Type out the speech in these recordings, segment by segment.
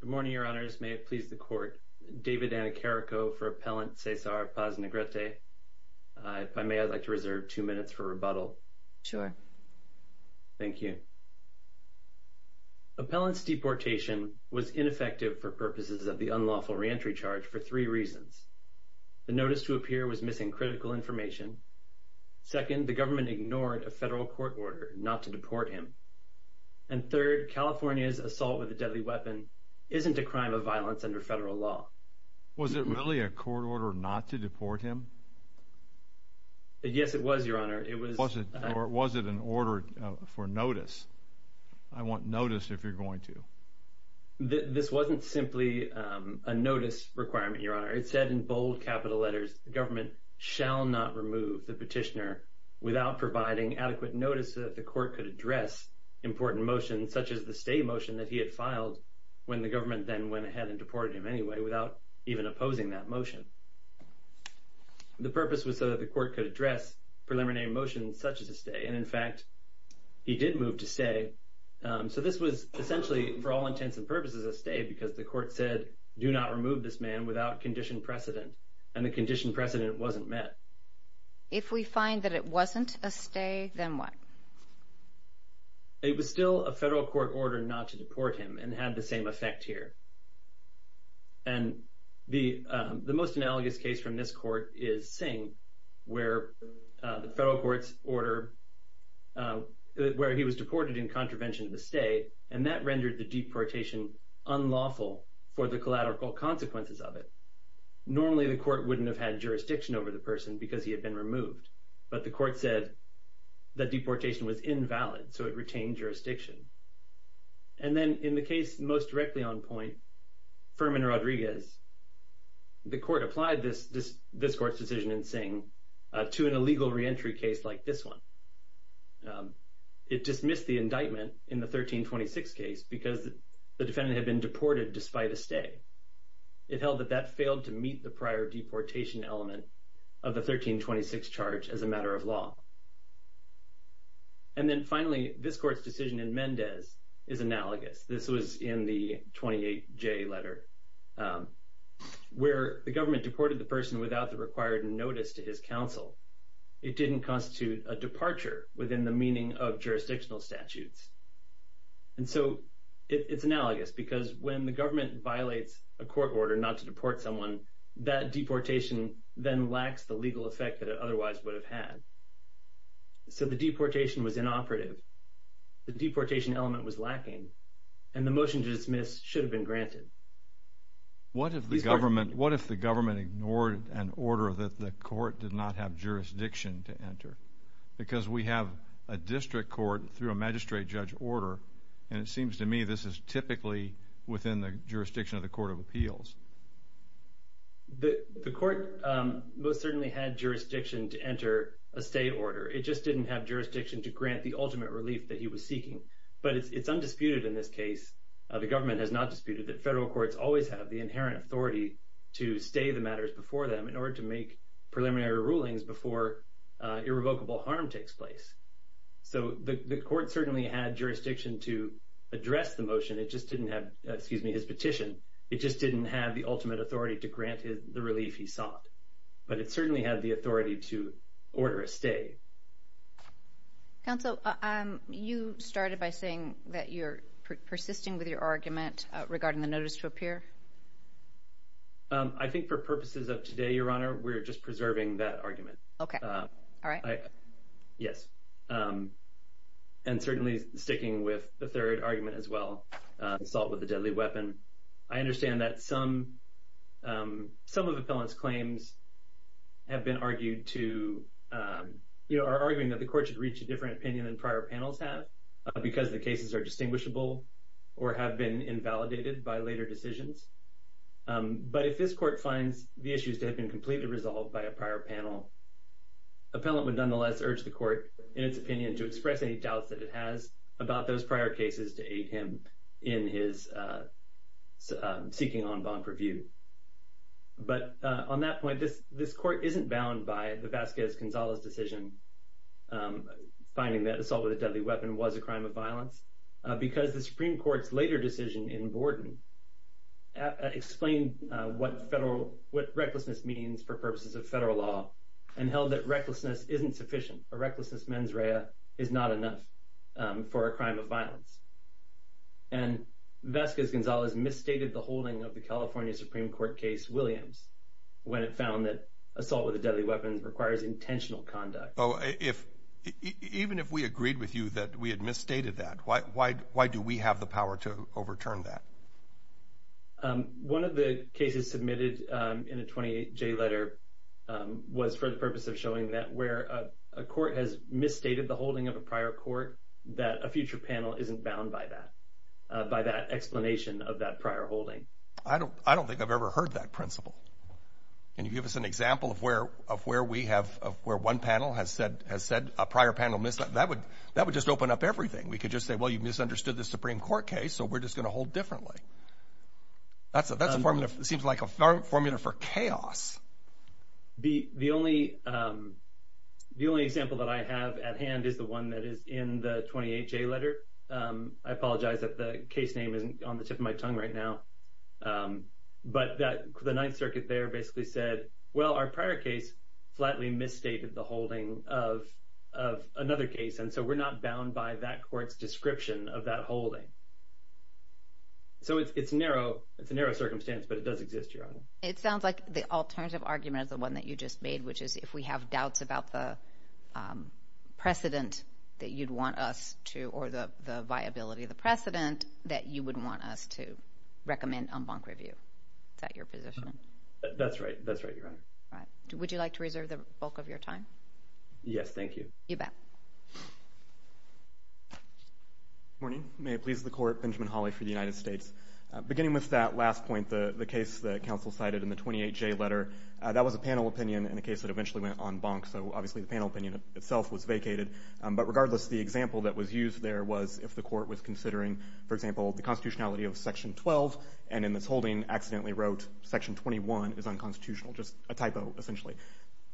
Good morning, Your Honors. May it please the Court, David Anicarico for Appellant Cesar Paz-Negrete. If I may, I'd like to reserve two minutes for rebuttal. Sure. Thank you. Appellant's deportation was ineffective for purposes of the unlawful reentry charge for three reasons. The notice to appear was missing critical information. Second, the government ignored a federal court order not to deport him. And third, California's assault with a deadly weapon isn't a crime of violence under federal law. Was it really a court order not to deport him? Yes, it was, Your Honor. Was it an order for notice? I want notice if you're going to. This wasn't simply a notice requirement, Your Honor. It said in bold capital letters, the government shall not remove the petitioner without providing adequate notice so that the court could address important motions, such as the stay motion that he had filed when the government then went ahead and deported him anyway, without even opposing that motion. The purpose was so that the court could address preliminary motions such as a stay. And in fact, he did move to stay. So this was essentially, for all intents and purposes, a stay because the court said, do not remove this man without condition precedent, and the condition precedent wasn't met. If we find that it wasn't a stay, then what? It was still a federal court order not to deport him and had the same effect here. And the most analogous case from this court is Singh, where the federal court's order, where he was deported in contravention of the stay, and that for the collateral consequences of it. Normally, the court wouldn't have had jurisdiction over the person because he had been removed. But the court said that deportation was invalid, so it retained jurisdiction. And then in the case most directly on point, Furman-Rodriguez, the court applied this court's decision in Singh to an illegal reentry case like this one. It dismissed the indictment in the 1326 case because the defendant had been denied a stay. It held that that failed to meet the prior deportation element of the 1326 charge as a matter of law. And then finally, this court's decision in Mendez is analogous. This was in the 28J letter, where the government deported the person without the required notice to his counsel. It didn't constitute a departure within the meaning of jurisdictional statutes. And so it's because if the government violates a court order not to deport someone, that deportation then lacks the legal effect that it otherwise would have had. So the deportation was inoperative. The deportation element was lacking, and the motion to dismiss should have been granted. What if the government ignored an order that the court did not have jurisdiction to enter? Because we have a district court through a magistrate judge order, and it seems to me this is typically within the jurisdiction of the Court of Appeals. The court most certainly had jurisdiction to enter a stay order. It just didn't have jurisdiction to grant the ultimate relief that he was seeking. But it's undisputed in this case, the government has not disputed, that federal courts always have the inherent authority to stay the matters before them in order to make preliminary rulings before irrevocable harm takes place. So the court certainly had jurisdiction to address the motion, it just didn't have, excuse me, his petition. It just didn't have the ultimate authority to grant the relief he sought. But it certainly had the authority to order a stay. Counsel, you started by saying that you're persisting with your argument regarding the notice to appear? I think for purposes of today, Your Honor, we're just preserving that argument. Okay, all right. Yes, and certainly sticking with the third argument as well, assault with a deadly weapon. I understand that some of the appellant's claims have been argued to, you know, are arguing that the court should reach a different opinion than prior panels have because the cases are distinguishable or have been invalidated by later decisions. But if this court finds the issues to have been nonetheless urge the court in its opinion to express any doubts that it has about those prior cases to aid him in his seeking on bond purview. But on that point, this court isn't bound by the Vasquez-Gonzalez decision finding that assault with a deadly weapon was a crime of violence because the Supreme Court's later decision in Borden explained what federal, what recklessness means for a recklessness mens rea is not enough for a crime of violence. And Vasquez-Gonzalez misstated the holding of the California Supreme Court case Williams when it found that assault with a deadly weapon requires intentional conduct. Oh, even if we agreed with you that we had misstated that, why do we have the power to overturn that? One of the cases submitted in a 28-J letter was for the purpose of showing that where a court has misstated the holding of a prior court, that a future panel isn't bound by that, by that explanation of that prior holding. I don't, I don't think I've ever heard that principle. Can you give us an example of where, of where we have, of where one panel has said, has said a prior panel, that would, that would just open up everything. We could just say, well, you misunderstood the Supreme Court case, so we're just going to hold differently. That's a, that's a form that seems like a formula for chaos. The, the only, the only example that I have at hand is the one that is in the 28-J letter. I apologize that the case name isn't on the tip of my tongue right now. But that, the Ninth Circuit there basically said, well, our prior case flatly misstated the holding of, of another case, and so we're not bound by that court's description of that holding. So it's, it's narrow, it's a narrow circumstance, but it does exist, Your Honor. It sounds like the alternative argument is the one that you just made, which is if we have doubts about the precedent that you'd want us to, or the, the viability of the precedent, that you would want us to recommend en banc review. Is that your position? That's right, that's right, Your Honor. All right. Would you like to reserve the bulk of your time? Yes, thank you. You bet. Good morning. May it please the Court, Benjamin Hawley for the United States. Beginning with that last point, the, the case that counsel cited in the 28-J letter, that was a panel opinion in a case that eventually went en banc, so obviously the panel opinion itself was vacated. But regardless, the example that was used there was if the court was considering, for example, the constitutionality of Section 12, and in its holding, accidentally wrote Section 21 is unconstitutional, just a typo, essentially.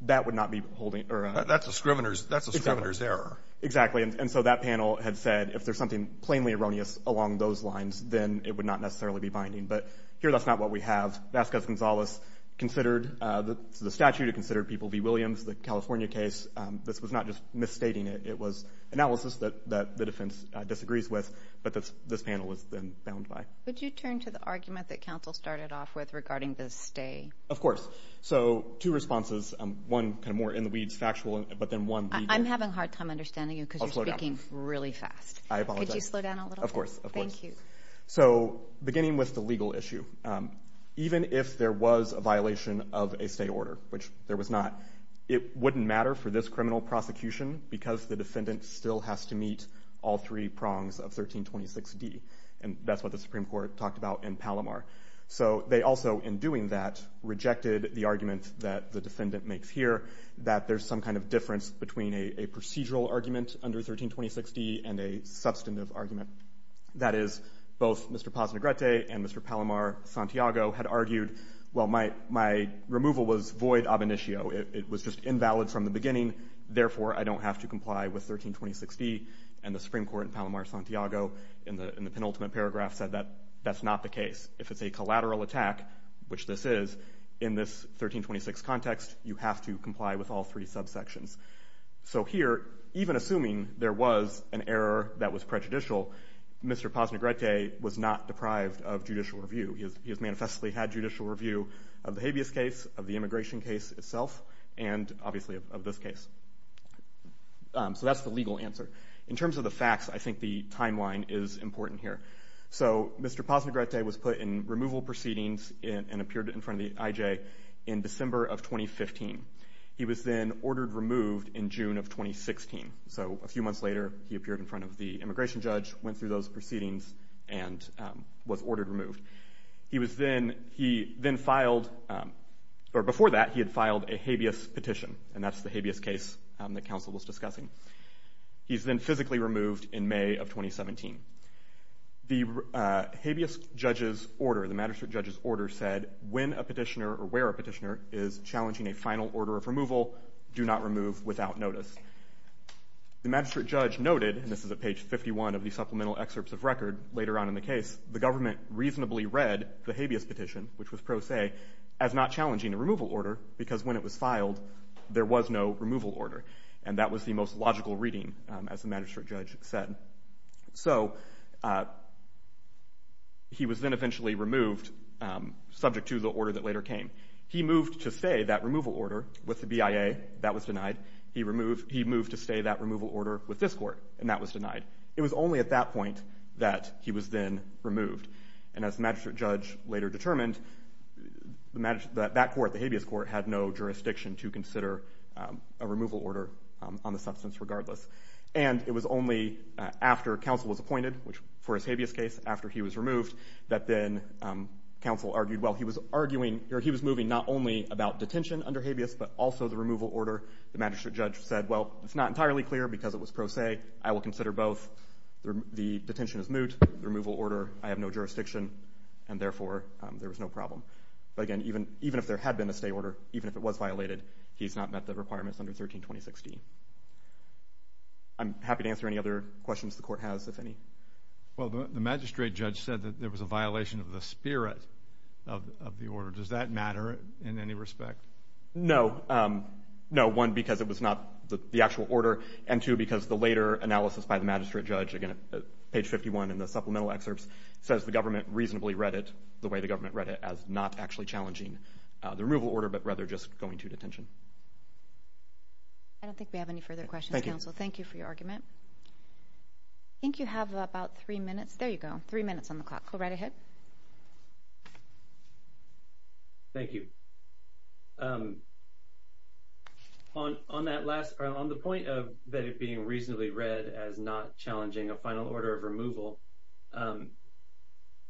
That would not be holding, or a... That's a scrivener's, that's a scrivener's error. Exactly. And so that panel had said, if there's something plainly erroneous along those lines, then it would not necessarily be binding. But here that's not what we have. Vasquez-Gonzalez considered the statute, it considered people v. Williams, the California case, this was not just misstating it, it was analysis that, that the defense disagrees with, but that's, this panel was then bound by. Would you turn to the argument that counsel started off with regarding the stay? Of course. So two responses, one kind of more in the weeds, factual, but then one legal. I'm having a hard time understanding you because you're speaking really fast. I apologize. Could you slow down a little bit? Thank you. So beginning with the legal issue, even if there was a violation of a stay order, which there was not, it wouldn't matter for this criminal prosecution because the defendant still has to meet all three prongs of 1326D. And that's what the Supreme Court talked about in Palomar. So they also, in doing that, rejected the argument that the defendant makes here, that there's some kind of difference between a procedural argument under 1326D and a substantive argument that is both Mr. Paz Negrete and Mr. Palomar Santiago had argued, well, my, my removal was void ab initio. It was just invalid from the beginning. Therefore, I don't have to comply with 1326D and the Supreme Court in Palomar Santiago in the, in the penultimate paragraph said that that's not the case. If it's a collateral attack, which this is in this 1326 context, you have to comply with all three subsections. So here, even assuming there was an error that was prejudicial, Mr. Paz Negrete was not deprived of judicial review. He has, he has manifestly had judicial review of the habeas case, of the immigration case itself, and obviously of this case. So that's the legal answer. In terms of the facts, I think the timeline is important here. So Mr. Paz Negrete was put in removal proceedings and, and ordered removed in June of 2016. So a few months later, he appeared in front of the immigration judge, went through those proceedings, and was ordered removed. He was then, he then filed, or before that, he had filed a habeas petition, and that's the habeas case that counsel was discussing. He's been physically removed in May of 2017. The habeas judge's order, the magistrate judge's order said, when a petitioner or final order of removal, do not remove without notice. The magistrate judge noted, and this is at page 51 of the supplemental excerpts of record later on in the case, the government reasonably read the habeas petition, which was pro se, as not challenging a removal order, because when it was filed, there was no removal order. And that was the most logical reading, as the magistrate judge said. So he was then eventually removed, subject to the order that later came. He moved to stay that removal order with the BIA, that was denied. He removed, he moved to stay that removal order with this court, and that was denied. It was only at that point that he was then removed. And as the magistrate judge later determined, that court, the habeas court, had no jurisdiction to consider a removal order on the substance regardless. And it was only after counsel was appointed, which for his habeas case, after he was removed, that then counsel argued, well, he was moving not only about detention under habeas, but also the removal order. The magistrate judge said, well, it's not entirely clear because it was pro se. I will consider both. The detention is moot. The removal order, I have no jurisdiction, and therefore, there was no problem. But again, even if there had been a stay order, even if it was violated, he's not met the requirements under 13-2016. I'm happy to answer any other questions the court has, if any. Well, the magistrate judge said that there was a violation of the spirit of the order. Does that matter in any respect? No. No. One, because it was not the actual order. And two, because the later analysis by the magistrate judge, again, page 51 in the supplemental excerpts, says the government reasonably read it the way the government read it as not actually challenging the removal order, but rather just going to detention. Thank you for your argument. I think you have about three minutes. There you go. Three minutes on the clock. Go right ahead. Thank you. On that last, on the point of that it being reasonably read as not challenging a final order of removal,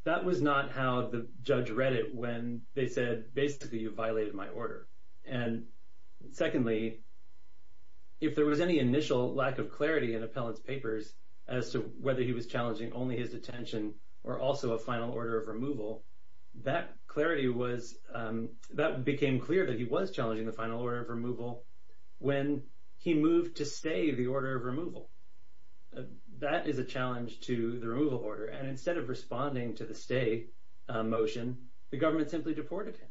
that was not how the judge read it when they said, basically, you violated my order. And secondly, if there was any initial lack of clarity in Appellant's papers as to whether he was challenging only his detention or also a final order of removal, that clarity was, that became clear that he was challenging the final order of removal when he moved to stay the order of removal. That is a challenge to the removal order. And instead of responding to the stay motion, the government simply deported him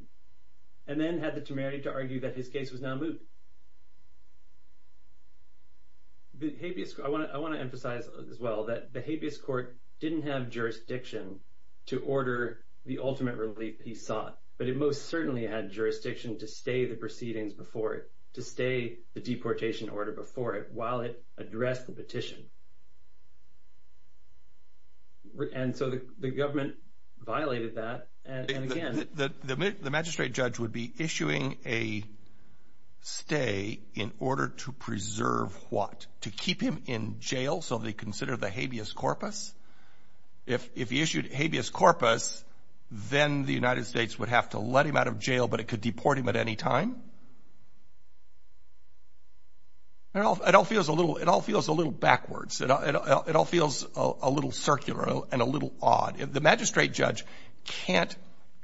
and then had the temerity to argue that his case was now moved. The habeas, I want to, I want to emphasize as well that the habeas court didn't have jurisdiction to order the ultimate relief he sought, but it most certainly had jurisdiction to stay the proceedings before it, to stay the deportation order before it, while it addressed the petition. And so the government violated that. The magistrate judge would be issuing a stay in order to preserve what? To keep him in jail so they consider the habeas corpus? If he issued habeas corpus, then the United States would have to let him out of jail, but it could deport him at any time? It all feels a little, it all feels a little backwards. It all feels a little circular and a little odd. The magistrate judge can't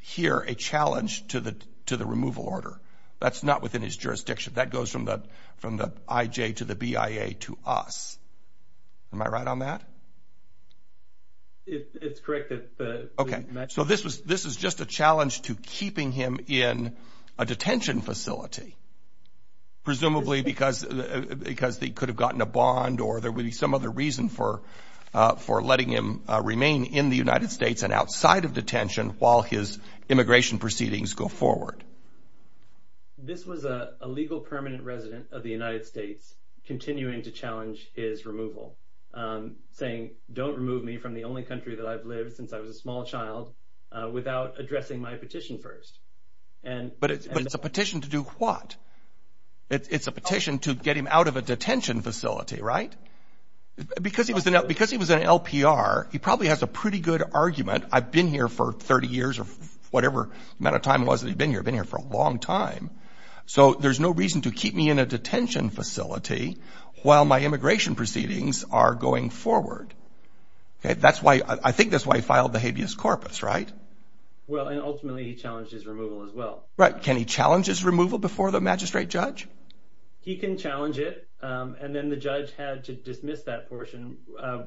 hear a challenge to the, to the removal order. That's not within his jurisdiction. That goes from the, from the IJ to the BIA to us. Am I right on that? It's correct. Okay. So this was, this is just a challenge to keeping him in a detention facility. Presumably because, because they could have gotten a bond or there would be some other reason for, for letting him remain in the United States and outside of detention while his immigration proceedings go forward. This was a legal permanent resident of the United States continuing to challenge his removal. Saying, don't remove me from the only country that I've lived since I was a small child without addressing my petition first. And, but it's a petition to do what? It's a petition to get him out of a detention facility, right? Because he was an LPR, he probably has a pretty good argument. I've been here for 30 years or whatever amount of time it was that he'd been here. I've been here for a long time. So there's no reason to keep me in a detention facility while my immigration proceedings are going forward. Okay. That's why, I think that's why he filed the habeas corpus, right? Well, and ultimately he challenged his removal as well. Right. Can he challenge his removal before the magistrate judge? He can challenge it. And then the judge had to dismiss that portion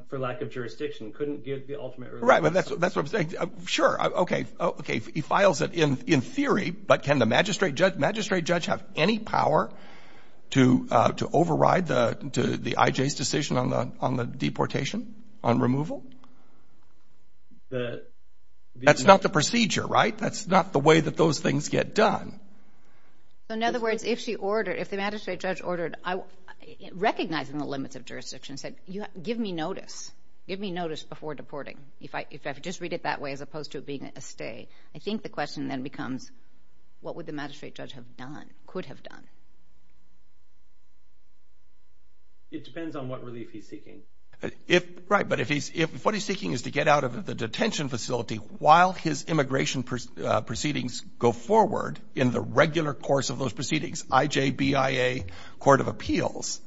for lack of jurisdiction. Couldn't give the ultimate ruling. Right. But that's, that's what I'm saying. Sure. Okay. Okay. He files it in, in theory, but can the magistrate judge, magistrate judge have any power to, to override the, to the IJ's decision on the, on the deportation, on removal? That's not the procedure, right? That's not the way that those things get done. So in other words, if she ordered, if the magistrate judge ordered, I, recognizing the limits of jurisdiction said, you have, give me notice, give me notice before deporting. If I, if I could just read it that way, as opposed to it being a stay, I think the question then becomes, what would the magistrate judge have done, could have done? It depends on what relief he's seeking. If, right, but if he's, if what he's seeking is to get out of the detention facility while his immigration proceedings go forward in the regular course of those proceedings, IJBIA court of appeals,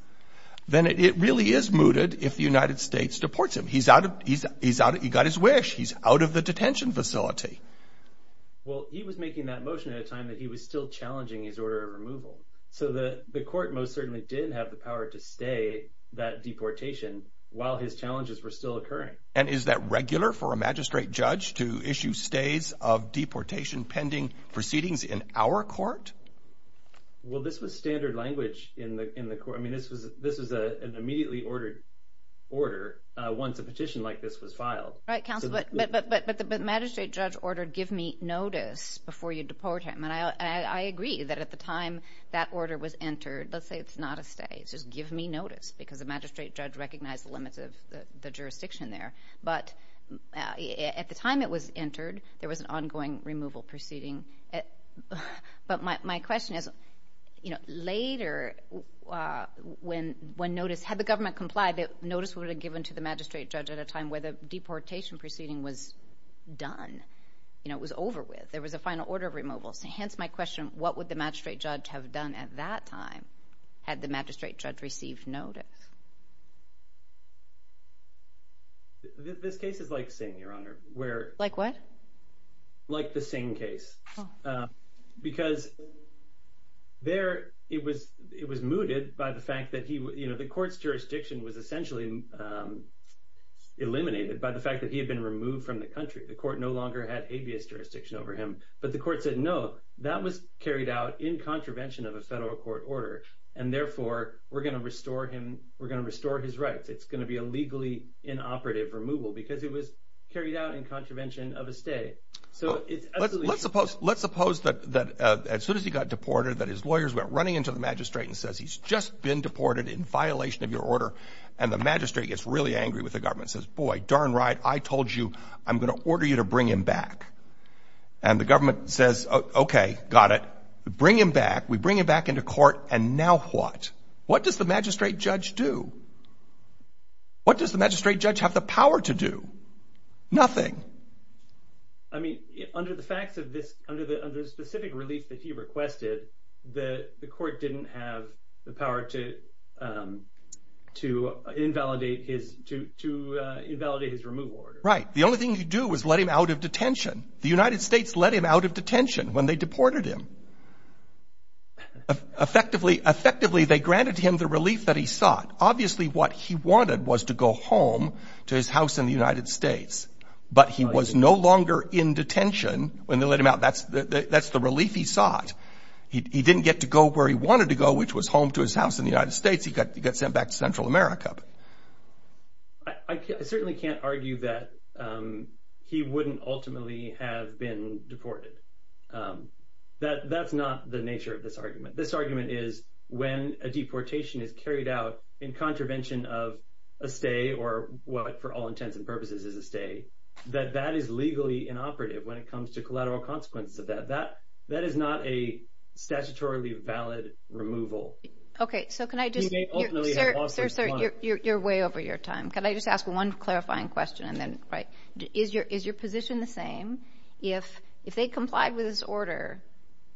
then it really is mooted if the United States deports him. He's out of, he's, he's out, he got his wish. He's out of the detention facility. Well, he was making that motion at a time that he was still challenging his order of removal. So the, the court most certainly didn't have the power to stay that deportation while his challenges were still occurring. And is that regular for a magistrate judge to issue stays of deportation pending proceedings in our court? Well, this was standard language in the, in the court. I mean, this was, this was an immediately ordered order once a petition like this was filed. Right, counsel, but, but, but, but the magistrate judge ordered, give me notice before you deport him. And I, I agree that at the time that order was entered, let's say it's not a stay, it's just give me notice because the magistrate judge recognized the limits of the jurisdiction there. But at the time it was entered, there was an ongoing removal proceeding. But my, my question is, you know, later when, when notice, had the government complied, that notice would have given to the magistrate judge at a time where the deportation proceeding was done, you know, it was over with. There was a final order of removal. So hence my question, what would the magistrate judge have done at that time had the magistrate judge received notice? This case is like Singh, Your Honor. Like what? Like the Singh case. Because there, it was, it was mooted by the fact that he, you know, the court's jurisdiction was essentially eliminated by the fact that he had been removed from the country. The court no longer had habeas jurisdiction over him. But the court said, no, that was carried out in contravention of a federal court order. And therefore, we're going to restore him, we're going to restore his rights. It's going to be a legally inoperative removal, because it was carried out in contravention of a state. So it's absolutely. Let's suppose, let's suppose that, that as soon as he got deported, that his lawyers went running into the magistrate and says, he's just been deported in violation of your order. And the magistrate gets really angry with the government says, boy, darn right. I told you, I'm going to order you to bring him back. And the government says, okay, got it. Bring him back. We bring him back into court. And now what? What does the magistrate judge do? What does the magistrate judge have the power to do? Nothing. I mean, under the facts of this, under the specific relief that he requested, the court didn't have the power to invalidate his, to invalidate his removal order. Right. The only thing you do is let him out of detention. The United States let him out of detention when they deported him. Effectively, they granted him the relief that he sought. Obviously, what he wanted was to go home to his house in the United States, but he was no longer in detention when they let him out. That's the relief he sought. He didn't get to go where he wanted to go, which was home to his house in the United States. He got sent back to Central America. I certainly can't argue that he wouldn't ultimately have been deported. That's not the nature of this argument. This argument is, when a deportation is carried out in contravention of a stay, or what, for all intents and purposes, is a stay, that that is legally inoperative when it comes to collateral consequences of that. That is not a statutorily valid removal. Okay, so can I just... You may ultimately have lost... Sir, sir, you're way over your time. Can I just ask one clarifying question, and then... Right. Is your position the same if they complied with this order,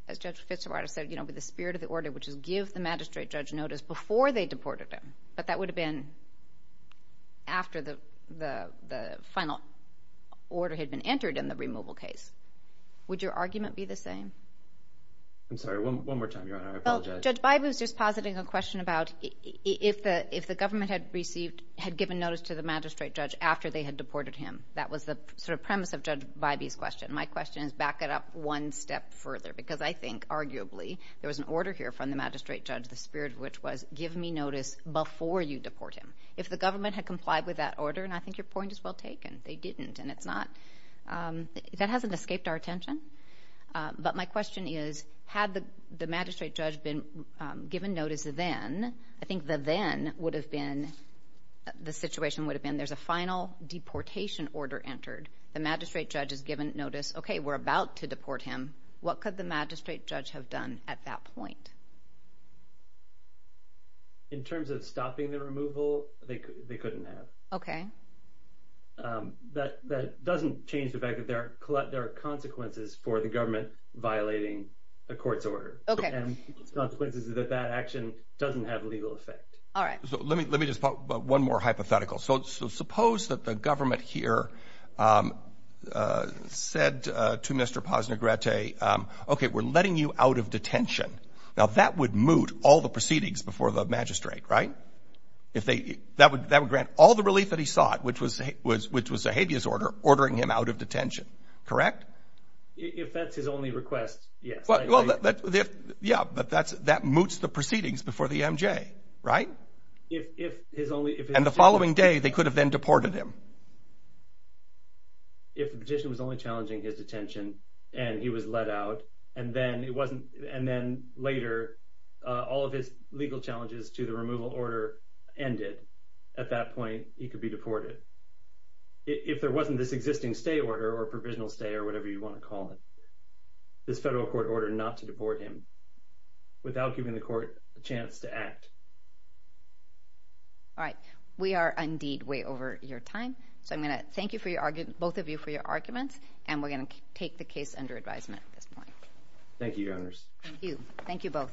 as Judge Fitzgerald said, with the spirit of the order, which is give the magistrate judge notice before they deported him, but that would have been after the final order had been entered in the removal case? Would your argument be the same? I'm sorry, one more time, Your Honor. I apologize. Judge Bybee was just positing a question about if the government had given notice to the magistrate judge after they had deported him. That was the premise of Judge Bybee's question. My question is, back it up one step further, because I think, arguably, there was an order here from the magistrate judge, the spirit of which was, give me notice before you deport him. If the government had complied with that order, and I think your point is well taken, they didn't, and it's not... That hasn't escaped our attention. But my question is, had the magistrate judge been given notice then, I think the then would have been, the situation would have been, there's a final deportation order entered. The magistrate judge has given notice. Okay, we're about to deport him. What could the magistrate judge have done at that point? In terms of stopping the removal, they couldn't have. Okay. That doesn't change the fact that there are consequences for the government violating a court's order. Okay. And the consequences is that that action doesn't have legal effect. All right. Let me just put one more hypothetical. Suppose that the government here said to Mr. Posner Gratte, okay, we're letting you out of detention. Now, that would moot all the proceedings before the magistrate, right? That would grant all the relief that he sought, which was Zahavia's order, ordering him out of detention, correct? If that's his only request, yes. Yeah, but that moots the proceedings before the MJ, right? If his only... And the following day, they could have then deported him. If the petition was only challenging his detention and he was let out, and then later all of his legal challenges to the removal order ended, at that point, he could be deported. If there wasn't this existing stay order or provisional stay or whatever you want to call it, this federal court order not to deport him without giving the court a chance to act. All right. We are indeed way over your time. So I'm going to thank you for your argument, both of you for your arguments, and we're going to take the case under advisement at this point. Thank you, Your Honors. Thank you. Thank you both.